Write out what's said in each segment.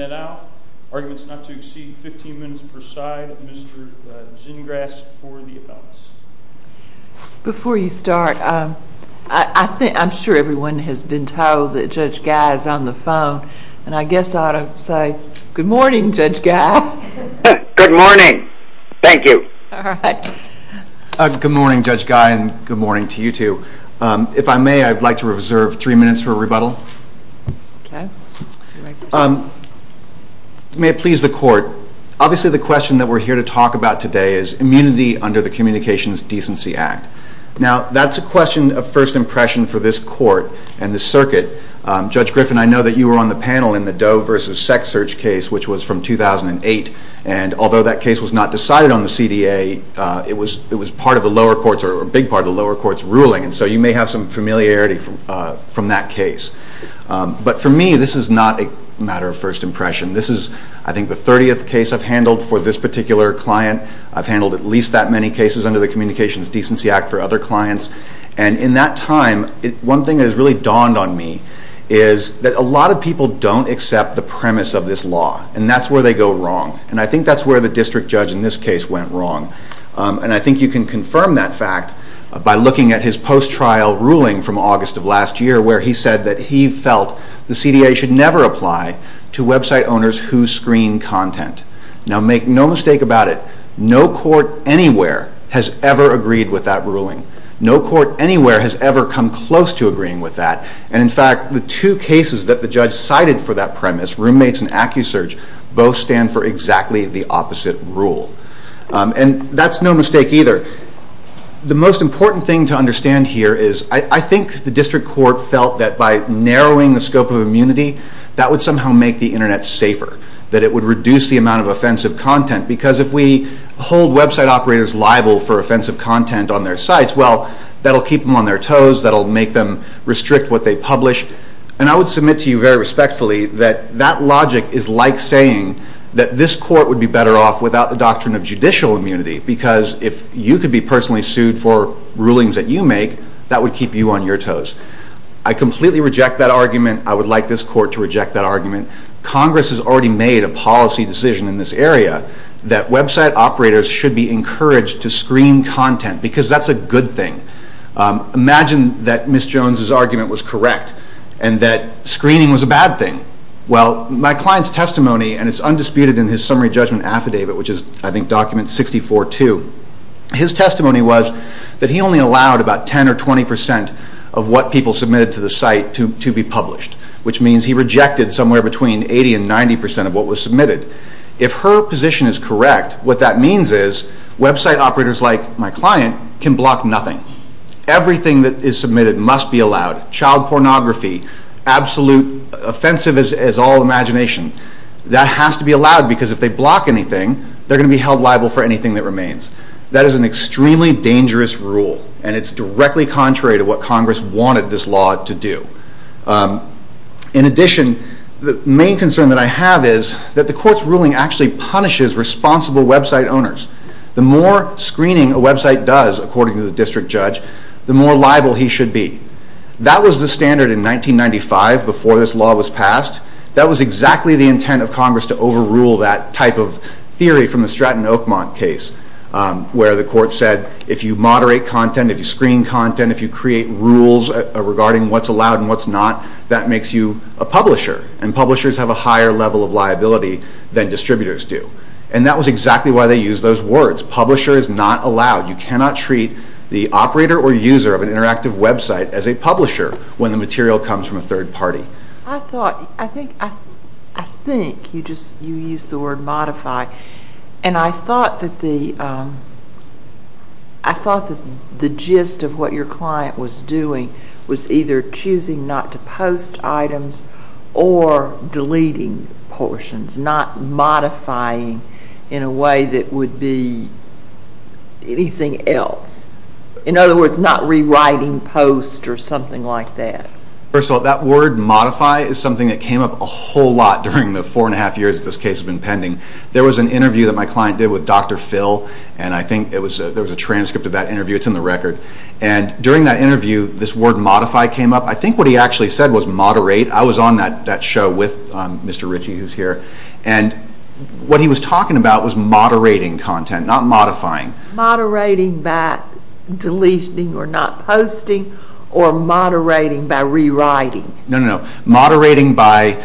at Owl. Arguments not to exceed 15 minutes per side. Mr. Gingras for the appellants. Before you start, I think I'm sure everyone has been told that Judge Guy is on the phone. And I guess I ought to say good morning, Judge Guy. Good morning. Thank you. Good morning, Judge Guy. Good morning, Good morning, Judge Guy, and good morning to you too. If I may, I'd like to reserve three minutes for a rebuttal. May it please the court, obviously the question that we're here to talk about today is immunity under the Communications Decency Act. Now that's a question of first impression for this court and the circuit. Judge Griffin, I know that you were on the panel in the Doe versus Sex Search case, which was from 2008, and although that case was not decided on the CDA, it was part of the lower courts or a big part of the lower courts ruling, and so you may have some familiarity from that case. But for me, this is not a matter of first impression. This is, I think, the 30th case I've handled for this particular client. I've handled at least that many cases under the Communications Decency Act for other clients, and in that time, one thing that has really dawned on me is that a lot of people don't accept the premise of this law, and that's where they go wrong. And I think that's where the district judge in this case went wrong, and I think you can confirm that fact by looking at his post-trial ruling from August of last year, where he said that he felt the CDA should never apply to website owners who screen content. Now make no mistake about it, no court anywhere has ever agreed with that ruling. No court anywhere has ever come close to agreeing with that, and in fact, the two cases that the judge cited for that premise, roommates and accu-search, both stand for exactly the opposite rule. And that's no mistake either. The most important thing to understand here is, I think the district court felt that by narrowing the scope of immunity, that would somehow make the Internet safer, that it would reduce the amount of offensive content, because if we hold website operators liable for offensive content on their sites, well, that'll keep them on their toes, that'll make them restrict what they publish, and I would be saying that this court would be better off without the doctrine of judicial immunity, because if you could be personally sued for rulings that you make, that would keep you on your toes. I completely reject that argument. I would like this court to reject that argument. Congress has already made a policy decision in this area that website operators should be encouraged to screen content, because that's a good thing. Imagine that Ms. Jones's argument was testimony, and it's undisputed in his summary judgment affidavit, which is, I think, document 64-2. His testimony was that he only allowed about 10 or 20 percent of what people submitted to the site to be published, which means he rejected somewhere between 80 and 90 percent of what was submitted. If her position is correct, what that means is, website operators like my client can screen content. That has to be allowed, because if they block anything, they're going to be held liable for anything that remains. That is an extremely dangerous rule, and it's directly contrary to what Congress wanted this law to do. In addition, the main concern that I have is that the court's ruling actually punishes responsible website owners. The more screening a website does, according to the district judge, the more liable he should be. That was the standard in 1995, before this law was passed. That was exactly the intent of Congress to overrule that type of theory from the Stratton Oakmont case, where the court said, if you moderate content, if you screen content, if you create rules regarding what's allowed and what's not, that makes you a publisher, and publishers have a higher level of liability than distributors do. And that was exactly why they used those words. Publisher is not allowed. You cannot treat the operator or user of an interactive website as a publisher when the material comes from a third party. I thought, I think, I think you just, you used the word modify, and I thought that the, I thought that the gist of what your client was doing was either choosing not to post items or deleting portions, not modifying in a way that would be anything else. In other words, not rewriting posts or something like that. First of all, that word modify is something that came up a whole lot during the four and a half years that this case has been pending. There was an interview that my client did with Dr. Phil, and I think it was, there was a transcript of that interview. It's in the record. And during that interview, this word modify came up. I think what he actually said was moderate. I was on that, that show with Mr. Ritchie, who's here, and what he was talking about was moderating content, not modifying. Moderating by deletioning or not posting, or moderating by rewriting. No, no, no. Moderating by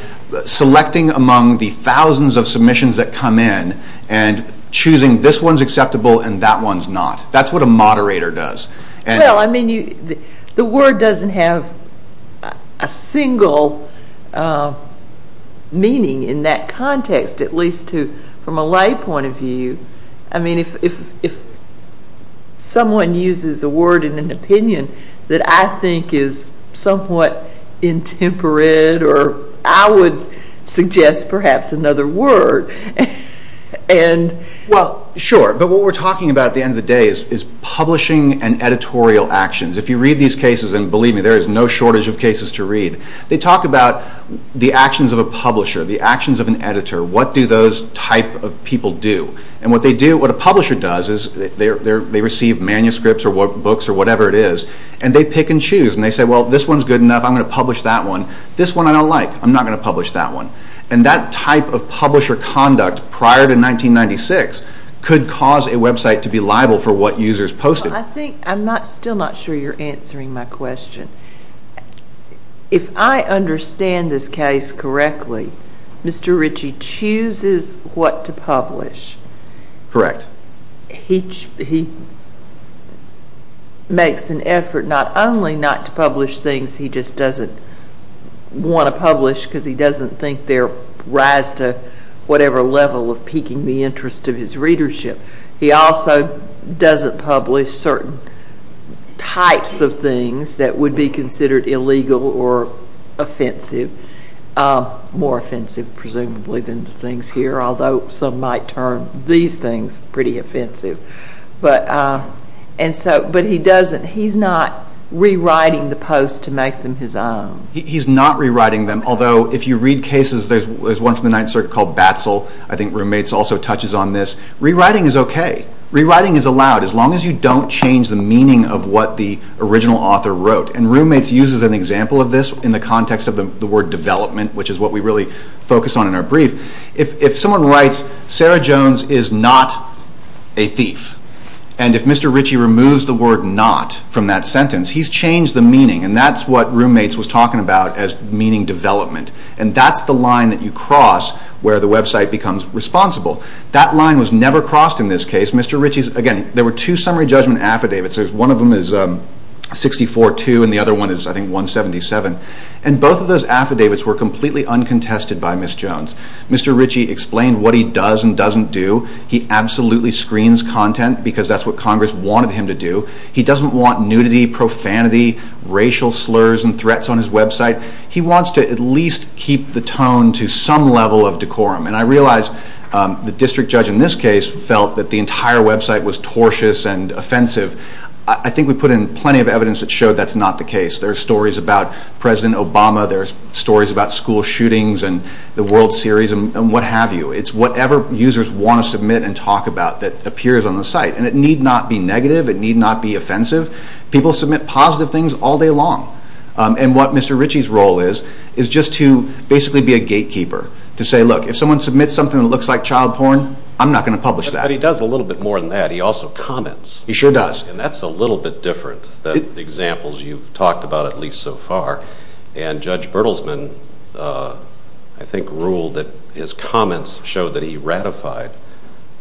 selecting among the thousands of submissions that come in and choosing this one's acceptable and that one's not. That's what a moderator does. Well, I mean, you, the word doesn't have a single meaning in that context, at least from a lay point of view. I mean, if someone uses a word in an opinion that I think is somewhat intemperate, or I would suggest perhaps another word, and... Well, sure. But what we're talking about at the end of the day is publishing and editorial actions. If you read these books, they talk about the actions of a publisher, the actions of an editor. What do those type of people do? And what they do, what a publisher does is they receive manuscripts or books or whatever it is, and they pick and choose. And they say, well, this one's good enough. I'm going to publish that one. This one I don't like. I'm not going to publish that one. And that type of publisher conduct prior to 1996 could cause a website to be liable for what users posted. I think, I'm still not sure you're answering my question. If I understand this case correctly, Mr. Ritchie chooses what to publish. Correct. He makes an effort not only not to publish things he just doesn't want to publish because he doesn't think they'll rise to whatever level of piquing the interest of his readership. He also doesn't publish certain types of things that would be considered illegal or offensive. More offensive, presumably, than the things here, although some might turn these things pretty offensive. But he doesn't. He's not rewriting the posts to make them his own. He's not rewriting them, although if you read cases, there's one from the Ninth Circuit called Batsell. I think roommates also touches on this. Rewriting is okay. Rewriting is allowed as long as you don't change the meaning of what the original author wrote. Roommates uses an example of this in the context of the word development, which is what we really focus on in our brief. If someone writes, Sarah Jones is not a thief, and if Mr. Ritchie removes the word not from that sentence, he's changed the meaning, and that's what roommates was talking about as meaning development. That's the line that you cross where the website becomes responsible. That line was never crossed in this case. There were two summary judgment affidavits. There's one of them is 64-2, and the other one is, I think, 177. Both of those affidavits were completely uncontested by Ms. Jones. Mr. Ritchie explained what he does and doesn't do. He absolutely screens content, because that's what Congress wanted him to do. He doesn't want nudity, profanity, racial slurs and threats on his website. He wants to at least keep the tone to some level of decorum. I realize the district judge in this case felt that the entire website was I think we put in plenty of evidence that showed that's not the case. There are stories about President Obama. There are stories about school shootings and the World Series and what have you. It's whatever users want to submit and talk about that appears on the site. It need not be negative. It need not be offensive. People submit positive things all day long. What Mr. Ritchie's role is, is just to basically be a gatekeeper, to say, look, if someone submits something that looks like child porn, I'm not going to publish that. He does a little bit more than that. He also comments. He sure does. And that's a little bit different than examples you've talked about at least so far. And Judge Bertelsmann, I think, ruled that his comments showed that he ratified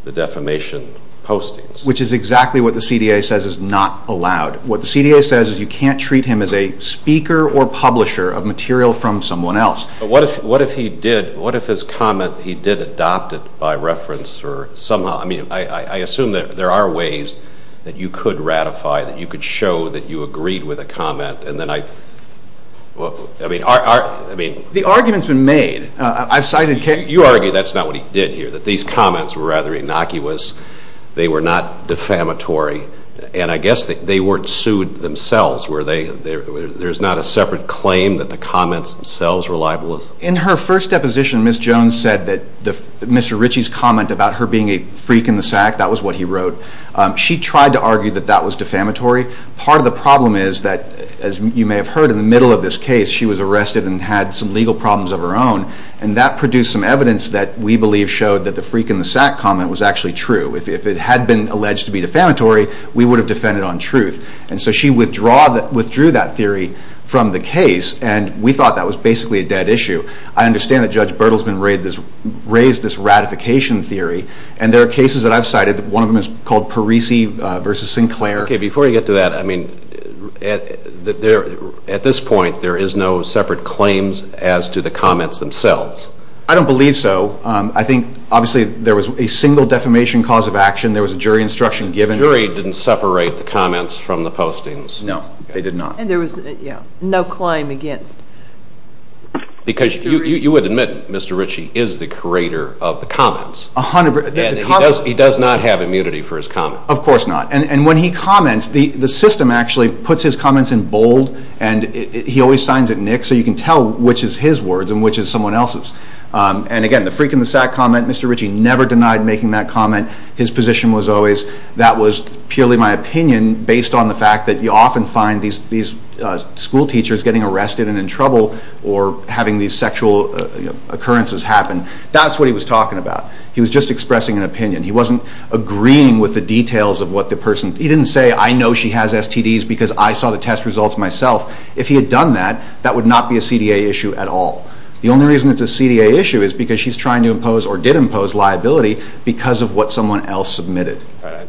the defamation postings. Which is exactly what the CDA says is not allowed. What the CDA says is you can't treat him as a speaker or publisher of material from someone else. But what if he did, what if his comment, he did adopt it by reference or somehow, I mean, I assume that there are ways that you could ratify, that you could show that you agreed with a comment and then I, I mean. The argument's been made. I've cited Ken. You argue that's not what he did here. That these comments were rather innocuous. They were not defamatory. And I guess they weren't sued themselves. There's not a separate claim that the comments themselves were libelous. In her first deposition, Ms. Jones said that Mr. Ritchie's comment about her being a freak in the sack, that was what he wrote. She tried to argue that that was defamatory. Part of the problem is that, as you may have heard, in the middle of this case, she was arrested and had some legal problems of her own. And that produced some evidence that we believe showed that the freak in the sack comment was actually true. If it had been alleged to be defamatory, we would have defended on truth. And so she withdrew that theory from the case and we thought that was basically a dead issue. I understand that Judge Bertelsmann raised this ratification theory. And there are cases that I've cited. One of them is called Parisi v. Sinclair. Okay. Before you get to that, I mean, at this point, there is no separate claims as to the comments themselves. I don't believe so. I think, obviously, there was a single defamation cause of action. There was a jury instruction given. The jury didn't separate the comments from the postings. No. They did not. And there was no claim against. Because you would admit, Mr. Ritchie, is the curator of the comments. He does not have immunity for his comments. Of course not. And when he comments, the system actually puts his comments in bold and he always signs it in ink so you can tell which is his words and which is someone else's. And again, the freak in the sack comment, Mr. Ritchie never denied making that comment. His position was always that was purely my opinion based on the fact that you often find these school teachers getting arrested and in trouble or having these sexual occurrences happen. That's what he was talking about. He was just expressing an opinion. He wasn't agreeing with the details of what the person. He didn't say, I know she has STDs because I saw the test results myself. If he had done that, that would not be a CDA issue at all. The only reason it's a CDA issue is because she's trying to impose or did impose liability because of what someone else submitted.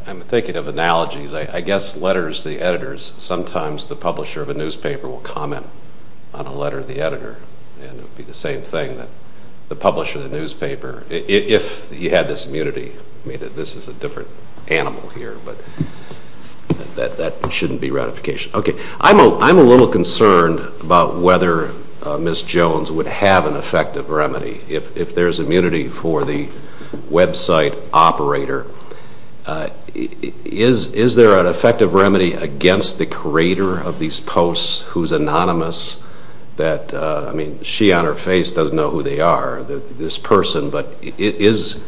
I'm thinking of analogies. I guess letters to the editors, sometimes the publisher of a newspaper will comment on a letter to the editor and it would be the same thing that the publisher of the newspaper, if he had this immunity, I mean this is a different animal here, but that shouldn't be ratification. Okay. I'm a little concerned about whether Ms. Jones would have an oversight operator. Is there an effective remedy against the creator of these posts who's anonymous that, I mean, she on her face doesn't know who they are, this person, but is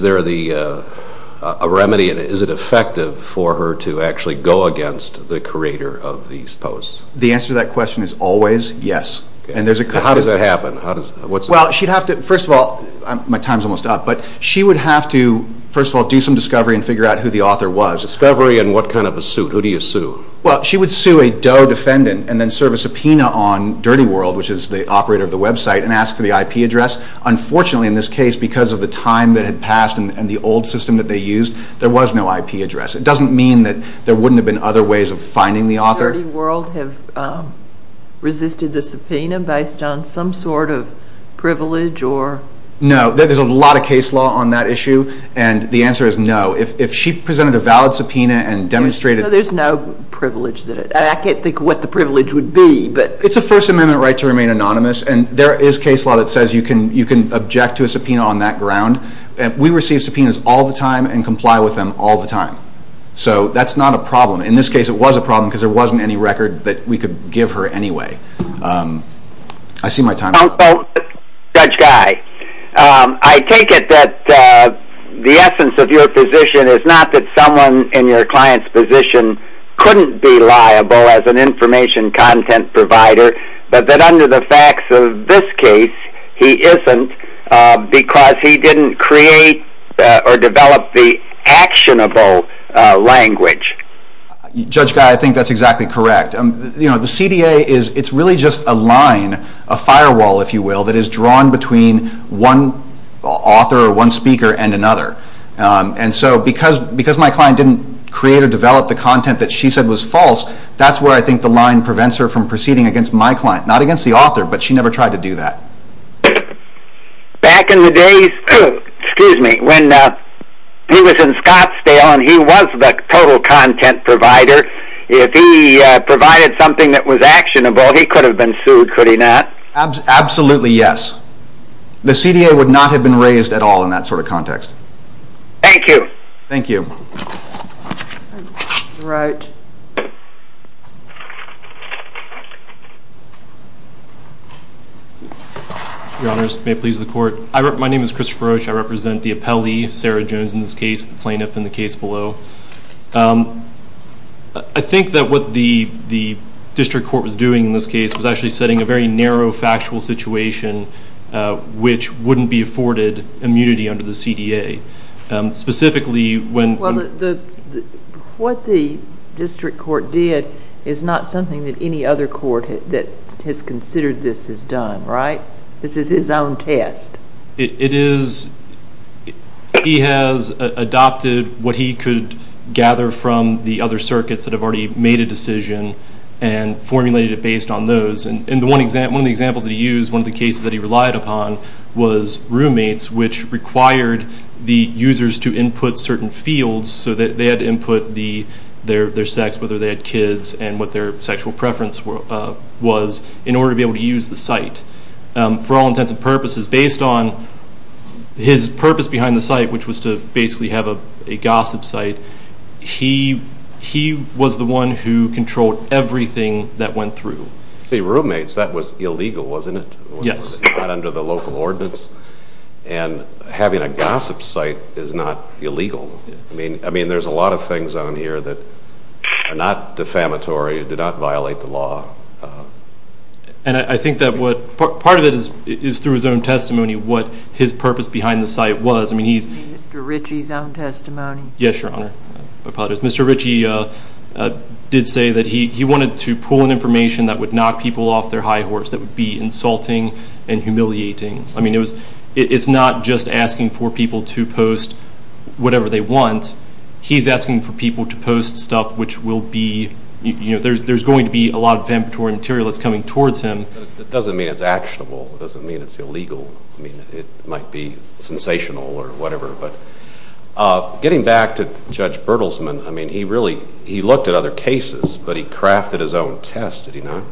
there a remedy and is it effective for her to actually go against the creator of these posts? The answer to that question is always yes. How does that happen? Well, she'd have to, first of all, my time's almost up, but she would have to, first of all, do some discovery and figure out who the author was. Discovery and what kind of a suit? Who do you sue? Well, she would sue a Doe defendant and then serve a subpoena on Dirty World, which is the operator of the website, and ask for the IP address. Unfortunately, in this case, because of the time that had passed and the old system that they used, there was no IP address. It doesn't mean that there wouldn't have been other ways of finding the author. Would Dirty World have resisted the subpoena based on some sort of privilege or? No. There's a lot of case law on that issue, and the answer is no. If she presented a valid subpoena and demonstrated... So there's no privilege. I can't think of what the privilege would be, but... It's a First Amendment right to remain anonymous, and there is case law that says you can object to a subpoena on that ground. We receive subpoenas all the time and comply with them all the time. So that's not a ny record that we could give her anyway. I see my time... Counsel, Judge Guy, I take it that the essence of your position is not that someone in your client's position couldn't be liable as an information content provider, but that under the facts of this case, he isn't, because he didn't create or develop the actionable language. Judge Guy, I think that's exactly correct. The CDA is really just a line, a firewall, if you will, that is drawn between one author or one speaker and another. And so because my client didn't create or develop the content that she said was false, that's where I think the line prevents her from proceeding against my client. Not against the author, but she never tried to do that. Back in the days when he was in Scottsdale and he was the total content provider, if he provided something that was actionable, he could have been sued, could he not? Absolutely yes. The CDA would not have been raised at all in that sort of context. Thank you. Thank you. All right. Your Honors, may it please the Court. My name is Christopher Roach. I represent the appellee, Sarah Jones in this case, the plaintiff in the case below. I think that what the district court was doing in this case was actually setting a very narrow factual situation which wouldn't be afforded immunity under the CDA. Specifically, when... What the district court did is not something that any other court that has considered this has done, right? This is his own test. It is. He has adopted what he could gather from the other circuits that have already made a decision and formulated it based on those. One of the examples that he used, one of the cases that he relied upon was roommates, which required the users to input certain fields so that they had to input their sex, whether they had kids and what their sexual preference was in order to be able to use the site. For all intents and purposes, based on his purpose behind the site, which was to basically have a gossip site, he was the one who controlled everything that went through. See, roommates, that was illegal, wasn't it? Yes. Not under the local ordinance. And having a gossip site is not illegal. I mean, there's a lot of things on here that are not defamatory, did not violate the law. And I think that part of it is through his own testimony, what his purpose behind the site was. Mr. Ritchie's own testimony? Yes, Your Honor. Mr. Ritchie did say that he wanted to pull in information that would knock people off their high horse, that would be insulting and humiliating. I mean, it's not just asking for people to post whatever they want. He's asking for people to post stuff which will be, you know, there's going to be a lot of defamatory material that's coming towards him. That doesn't mean it's actionable. It doesn't mean it's illegal. I mean, it might be sensational or whatever, but getting back to Judge Bertelsman, I mean, he really, he looked at other cases, but he crafted his own test, did he not?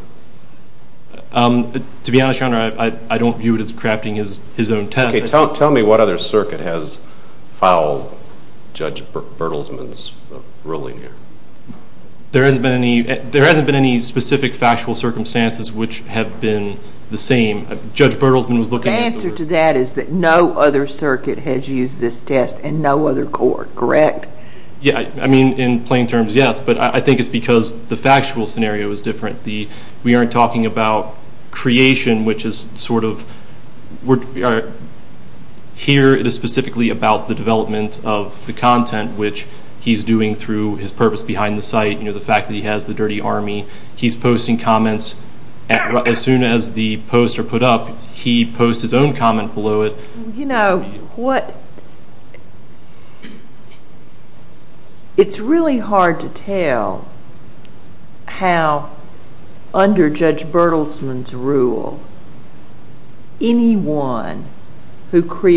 To be honest, Your Honor, I don't view it as crafting his own test. Okay, tell me what other circuit has filed Judge Bertelsman's ruling here. There hasn't been any specific factual circumstances which have been the same. Judge Bertelsman was looking at... The answer to that is that no other circuit has used this test and no other court, correct? Yeah, I mean, in plain terms, yes, but I think it's because the factual scenario is different. We aren't talking about creation, which is sort of, here it is specifically about the development of the content which he's doing through his purpose behind the site, the fact that he has the dirty army. He's posting comments. As soon as the posts are put up, he posts his own comment below it. You know, what... It's really hard to tell how under Judge Bertelsman's rule, anyone who would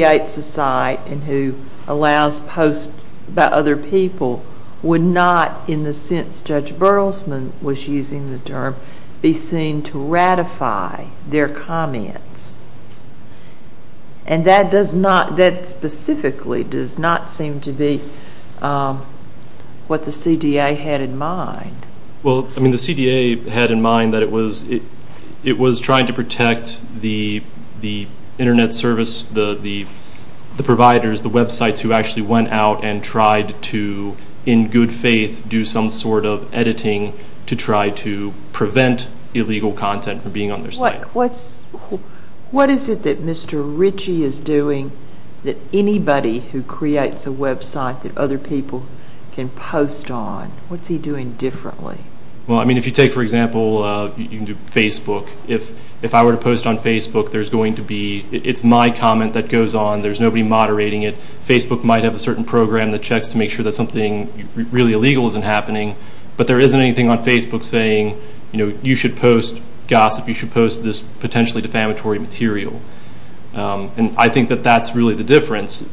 not, in the sense Judge Bertelsman was using the term, be seen to ratify their comments. And that does not, that specifically does not seem to be what the CDA had in mind. Well, I mean, the CDA had in mind that it was trying to protect the internet service, the providers, the websites who actually went out and tried to, in good faith, do some sort of editing to try to prevent illegal content from being on their site. What is it that Mr. Ritchie is doing that anybody who creates a website that other people can post on, what's he doing differently? Well, I mean, if you take, for example, you can do Facebook. If I were to post on Facebook, there's going to be, it's my comment that goes on, there's going to be a certain program that checks to make sure that something really illegal isn't happening, but there isn't anything on Facebook saying, you know, you should post gossip, you should post this potentially defamatory material. And I think that that's really the difference.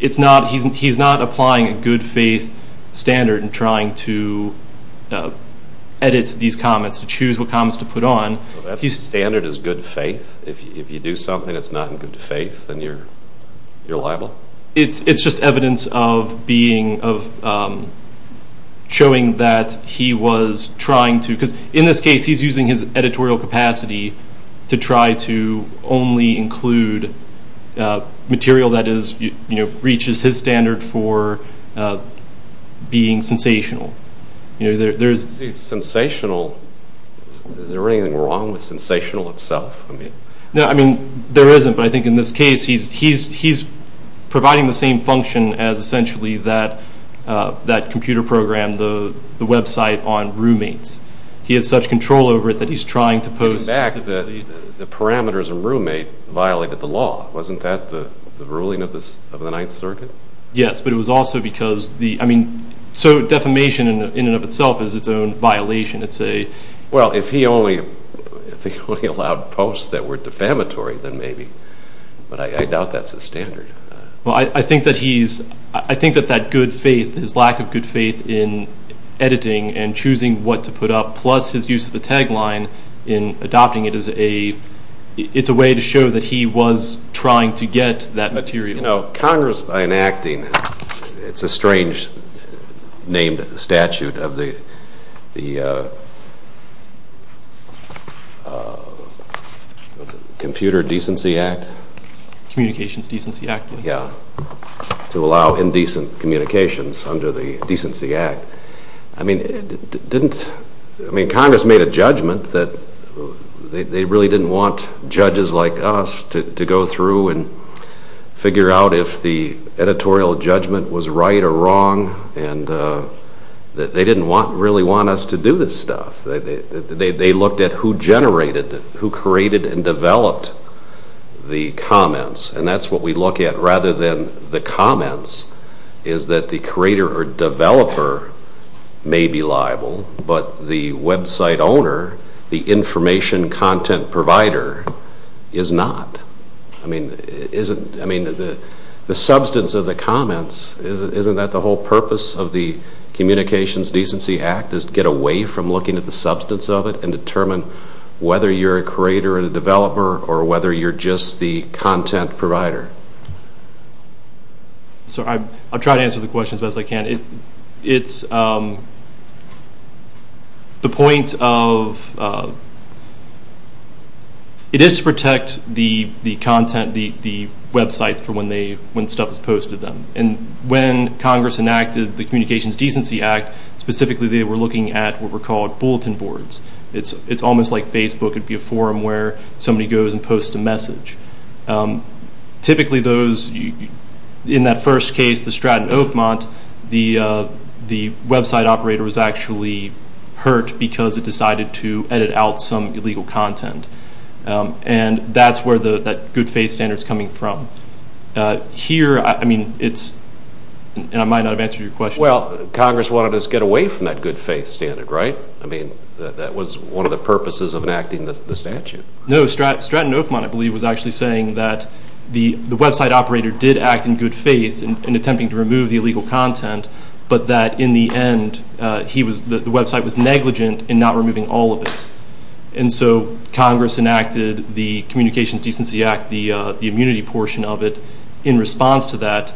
It's not, he's not applying a good faith standard in trying to edit these comments, to choose what comments to put on. That standard is good faith? If you do something that's not in good faith, then you're liable? Well, it's just evidence of being, of showing that he was trying to, because in this case, he's using his editorial capacity to try to only include material that is, you know, reaches his standard for being sensational. You know, there's... Sensational, is there anything wrong with sensational itself? No, I mean, there isn't, but I think in this case, he's providing the same function as essentially that computer program, the website on roommates. He has such control over it that he's trying to post... In fact, the parameters in roommate violated the law. Wasn't that the ruling of the Ninth Circuit? Yes, but it was also because the, I mean, so defamation in and of itself is its own violation. It's a... Well, if he only allowed posts that were defamatory, then maybe. But I doubt that's his standard. Well, I think that he's, I think that that good faith, his lack of good faith in editing and choosing what to put up, plus his use of the tagline in adopting it as a, it's a way to show that he was trying to get that material. You know, Congress, by enacting, it's a strange named statute of the... What's it, Computer Decency Act? Communications Decency Act. Yeah, to allow indecent communications under the Decency Act. I mean, didn't, I mean, Congress made a judgment that they really didn't want to figure out if the editorial judgment was right or wrong, and they didn't really want us to do this stuff. They looked at who generated, who created and developed the comments, and that's what we look at, rather than the comments, is that the creator or developer may be liable, but the website owner, the information content provider is not. I mean, isn't, I mean, the substance of the comments, isn't that the whole purpose of the Communications Decency Act, is to get away from looking at the substance of it and determine whether you're a creator or a developer, or whether you're just the content provider? Sorry, I'll try to answer the question as best I can. It's the point of, it is to protect the content, the websites for when stuff is posted to them. And when Congress enacted the Communications Decency Act, specifically they were looking at what were called bulletin boards. It's almost like Facebook would be a forum where somebody goes and posts a message. Typically those, in that first case, the Stratton Oakmont, the website operator was actually hurt because it decided to edit out some illegal content. And that's where that good faith standard is coming from. Here, I mean, it's, and I might not have answered your question. Well, Congress wanted us to get away from that good faith standard, right? I mean, that was one of the purposes of enacting the statute. No, Stratton Oakmont, I believe, was actually saying that the website operator did act in good faith in attempting to remove the illegal content, but that in the end, he was, the website was negligent in not removing all of it. And so Congress enacted the Communications Decency Act, the immunity portion of it, in response to that,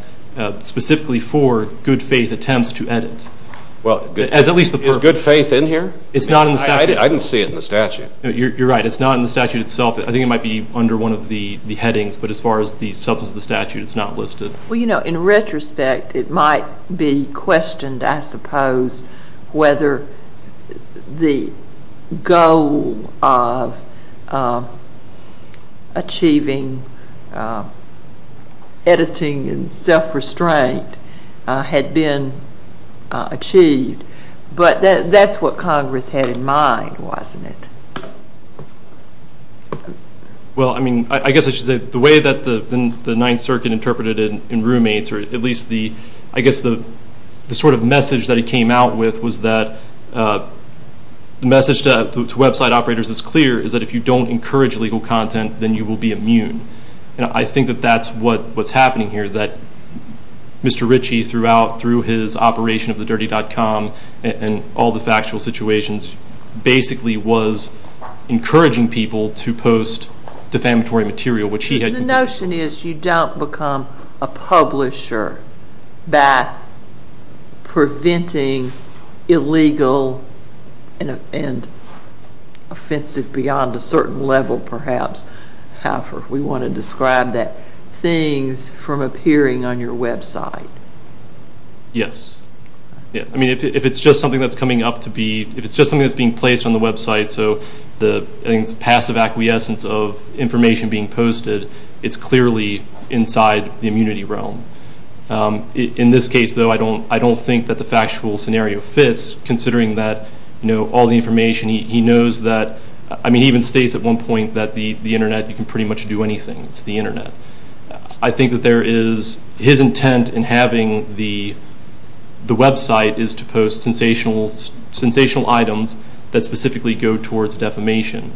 specifically for good faith attempts to edit. Is good faith in here? It's not in the statute. I didn't see it in the statute. You're right. It's not in the statute itself. I think it might be under one of the headings, but as far as the substance of the statute, it's not listed. Well, you know, in retrospect, it might be questioned, I suppose, whether the goal of achieving editing and self-restraint had been achieved. But that's what Congress had in mind, wasn't it? Well, I mean, I guess I should say the way that the Ninth Circuit interpreted it in roommates, or at least the, I guess the sort of message that it came out with was that the message to website operators is clear, is that if you don't encourage illegal content, then you will be immune. And I think that that's what's happening here, that Mr. Ritchie, through his operation of thedirty.com and all the factual situations, basically was encouraging people to post defamatory material, which he had. The notion is you don't become a publisher by preventing illegal and offensive beyond a certain level, perhaps, however we want to describe that, things from appearing on your website. Yes. I mean, if it's just something that's coming up to be, if it's just something that's being placed on the website, so the passive acquiescence of information being posted, it's clearly inside the immunity realm. In this case, though, I don't think that the factual scenario fits, considering that, you know, all the information, he knows that, I mean, he even states at one point that the internet, you can pretty much do anything, it's the internet. I think that there is, his intent in having the website is to post sensational items that specifically go towards defamation.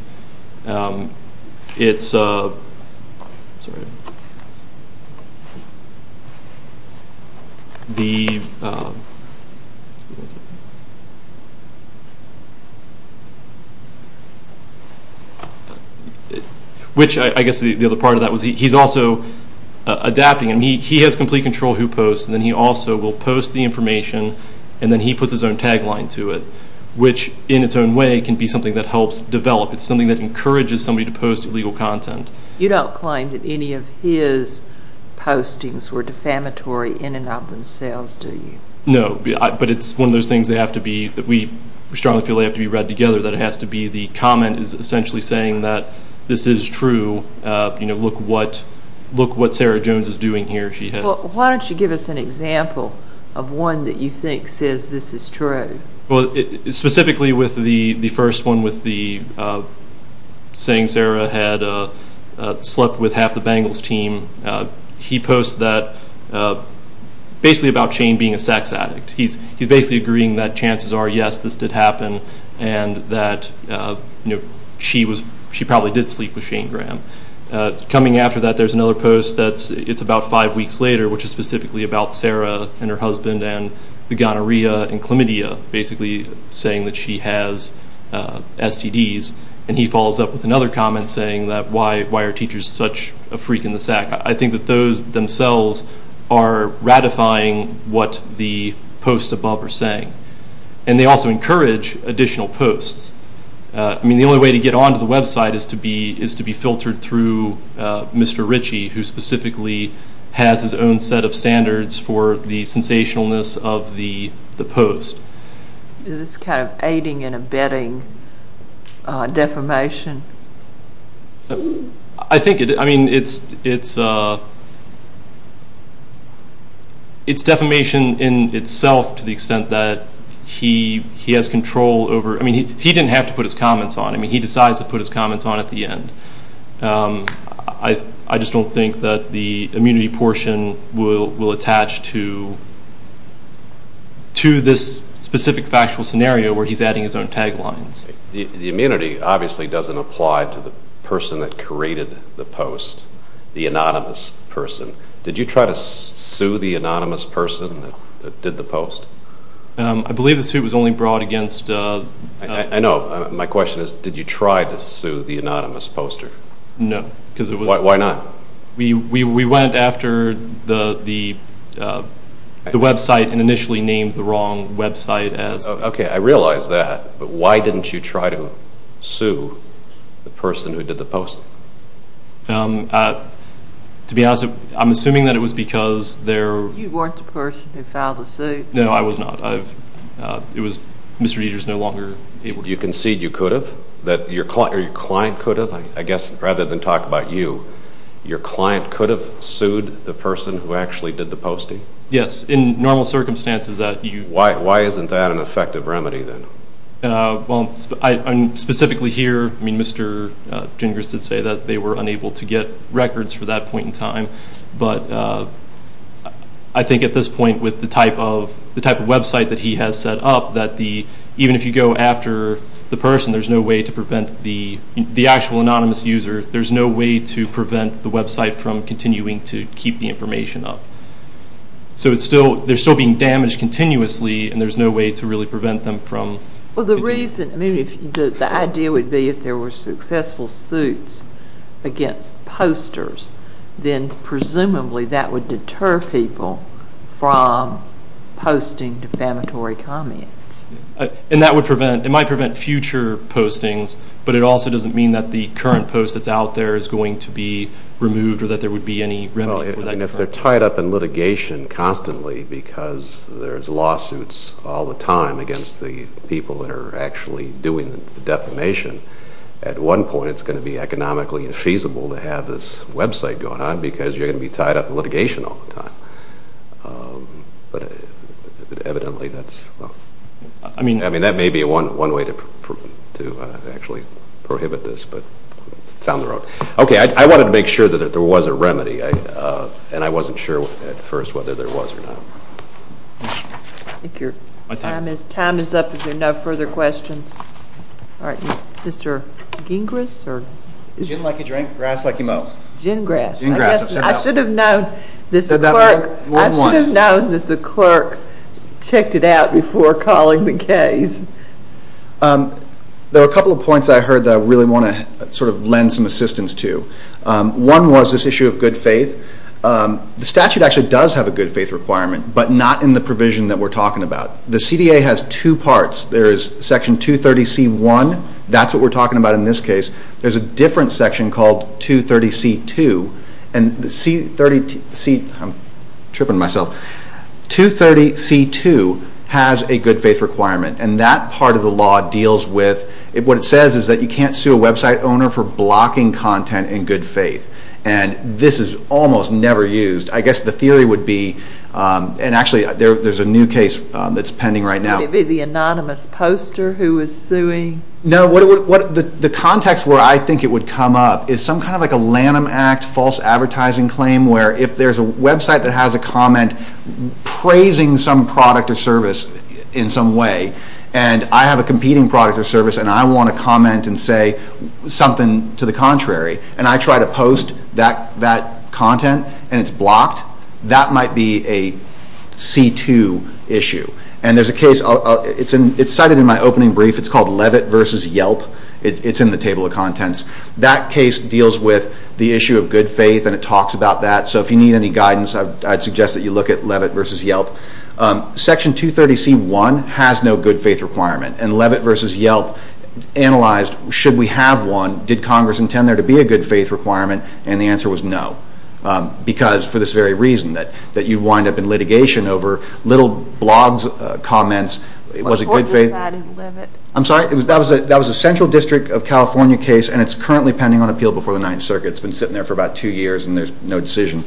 It's, sorry, the, which I guess the other part of that was he's also adapting, and he has complete control who posts, and then he also will post the information, and then he puts his own tagline to it, which in its own way can be something that helps develop. It's something that encourages somebody to post illegal content. You don't claim that any of his postings were defamatory in and of themselves, do you? No, but it's one of those things that have to be, that we strongly feel they have to be read together, that it has to be the comment is essentially saying that this is true, you know, look what Sarah Jones is doing here, she has. Well, why don't you give us an example of one that you think says this is true? Well, specifically with the first one with the saying Sarah had slept with half the Bengals team, he posts that, basically about Shane being a sex addict. He's basically agreeing that chances are, yes, this did happen, and that, you know, she probably did sleep with Shane Graham. Coming after that, there's another post that's, it's about five weeks later, which is specifically about Sarah and her husband and the gonorrhea and basically saying that she has STDs, and he follows up with another comment saying that why are teachers such a freak in the sack? I think that those themselves are ratifying what the posts above are saying, and they also encourage additional posts. I mean, the only way to get onto the website is to be filtered through Mr. Ritchie, who specifically has his own set of standards for the sensationalness of the post. Is this kind of aiding and abetting defamation? I think it, I mean, it's defamation in itself to the extent that he has control over, I mean, he didn't have to put his comments on. I mean, he decides to put his comments on at the end. I just don't think that the immunity portion will attach to this specific factual scenario where he's adding his own taglines. The immunity obviously doesn't apply to the person that created the post, the anonymous person. Did you try to sue the anonymous person that did the post? I believe the suit was only brought against... I know. My question is, did you try to sue the anonymous poster? No. Why not? We went after the website and initially named the wrong website as... Okay, I realize that, but why didn't you try to sue the person who did the post? To be honest, I'm assuming that it was because there... You weren't the person who filed the suit. No, I was not. It was Mr. Dieter's no longer able to... You concede you could have? That your client could have? I guess rather than talk about you, your client could have sued the person who actually did the posting? Yes, in normal circumstances that you... Why isn't that an effective remedy then? Well, specifically here, Mr. Gingras did say that they were unable to get records for that point in time, but I think at this point with the type of website that he has set up, that even if you go after the person, there's no way to prevent the actual anonymous user, there's no way to prevent the website from continuing to keep the information up. So they're still being damaged continuously, and there's no way to really prevent them from... Well, the reason... The idea would be if there were successful suits against posters, then presumably that would deter people from posting defamatory comments. And that would prevent... It might prevent future postings, but it also doesn't mean that the current post that's out there is going to be removed or that there would be any remedy for that. If they're tied up in litigation constantly because there's lawsuits all the time against the people that are actually doing the defamation, at one point it's going to be economically infeasible to have this website going on because you're going to be tied up in litigation all the time. But evidently that's... I mean, that may be one way to actually prohibit this, but it's down the road. Okay, I wanted to make sure that there was a remedy, and I wasn't sure at first whether there was or not. I think your time is up. Is there no further questions? All right. Mr. Gingras? Gin like you drink, grass like you mow. Gingrass. I should have known that the clerk checked it out before calling the case. There were a couple of points I heard that I really want to lend some assistance to. One was this issue of good faith. The statute actually does have a good faith requirement, but not in the provision that we're talking about. The CDA has two parts. There is Section 230C1. That's what we're talking about in this case. There's a different section called 230C2. And the C30C... I'm tripping myself. 230C2 has a good faith requirement, and that part of the law deals with... What it says is that you can't sue a website owner for blocking content in good faith. And this is almost never used. I guess the theory would be, and actually there's a new case that's pending right now. Would it be the anonymous poster who is suing? No. The context where I think it would come up is some kind of like a Lanham Act false advertising claim where if there's a website that has a comment praising some product or service in some way, and I have a competing product or service, and I want to comment and say something to the contrary, and I try to post that content and it's blocked, that might be a C2 issue. And there's a case. It's cited in my opening brief. It's called Levitt v. Yelp. It's in the Table of Contents. That case deals with the issue of good faith, and it talks about that. So if you need any guidance, I'd suggest that you look at Levitt v. Yelp. Section 230C1 has no good faith requirement. And Levitt v. Yelp analyzed, should we have one? Did Congress intend there to be a good faith requirement? And the answer was no, because for this very reason that you'd wind up in litigation over little blogs, comments, was it good faith? I'm sorry? That was a Central District of California case, and it's currently pending on appeal before the Ninth Circuit. It's been sitting there for about two years, and there's no decision.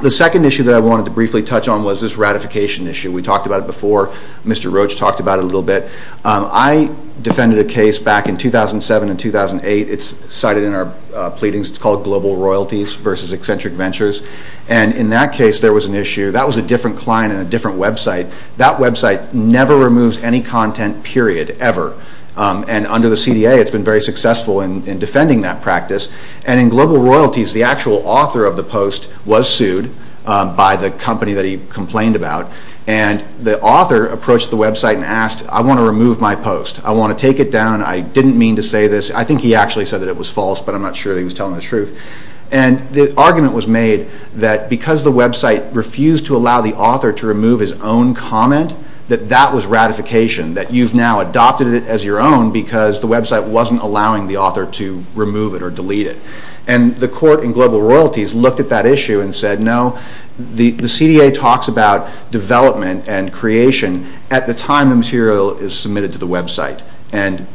The second issue that I wanted to briefly touch on was this ratification issue. We talked about it before. Mr. Roach talked about it a little bit. I defended a case back in 2007 and 2008. It's cited in our pleadings. It's called Global Royalties v. Eccentric Ventures. And in that case, there was an issue. That was a different client and a different website. That website never removes any content, period, ever. And under the CDA, it's been very successful in defending that practice. And in Global Royalties, the actual author of the post was sued by the company that he complained about, and the author approached the website and asked, I want to remove my post. I want to take it down. I didn't mean to say this. I think he actually said that it was false, but I'm not sure that he was telling the truth. And the argument was made that because the website refused to allow the author to remove his own comment, that that was ratification, that you've now adopted it as your own because the website wasn't allowing the author to remove it or delete it. And the court in Global Royalties looked at that issue and said, no, the CDA talks about development and creation at the time the material is submitted to the website. And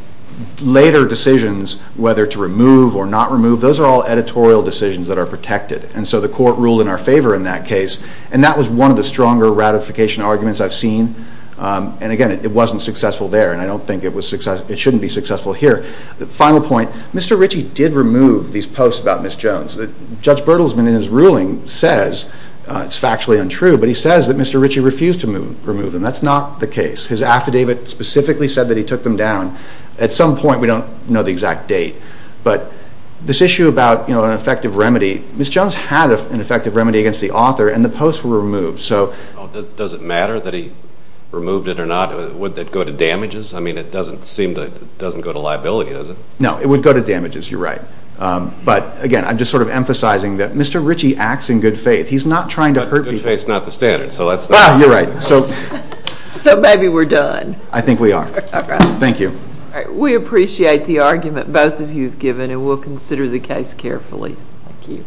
later decisions, whether to remove or not remove, those are all editorial decisions that are protected. And so the court ruled in our favor in that case. And that was one of the stronger ratification arguments I've seen. And again, it wasn't successful there, and I don't think it should be successful here. The final point, Mr. Ritchie did remove these posts about Ms. Jones. Judge Bertelsman in his ruling says it's factually untrue, but he says that Mr. Ritchie refused to remove them. That's not the case. His affidavit specifically said that he took them down. At some point, we don't know the exact date, but this issue about an effective remedy, Ms. Jones had an effective remedy against the author, and the posts were removed. Does it matter that he removed it or not? Would that go to damages? I mean, it doesn't seem to go to liability, does it? No, it would go to damages. You're right. But, again, I'm just sort of emphasizing that Mr. Ritchie acts in good faith. He's not trying to hurt people. But good faith is not the standard, so that's not the argument. You're right. So maybe we're done. I think we are. All right. Thank you. All right. We appreciate the argument both of you have given, and we'll consider the case carefully. Thank you.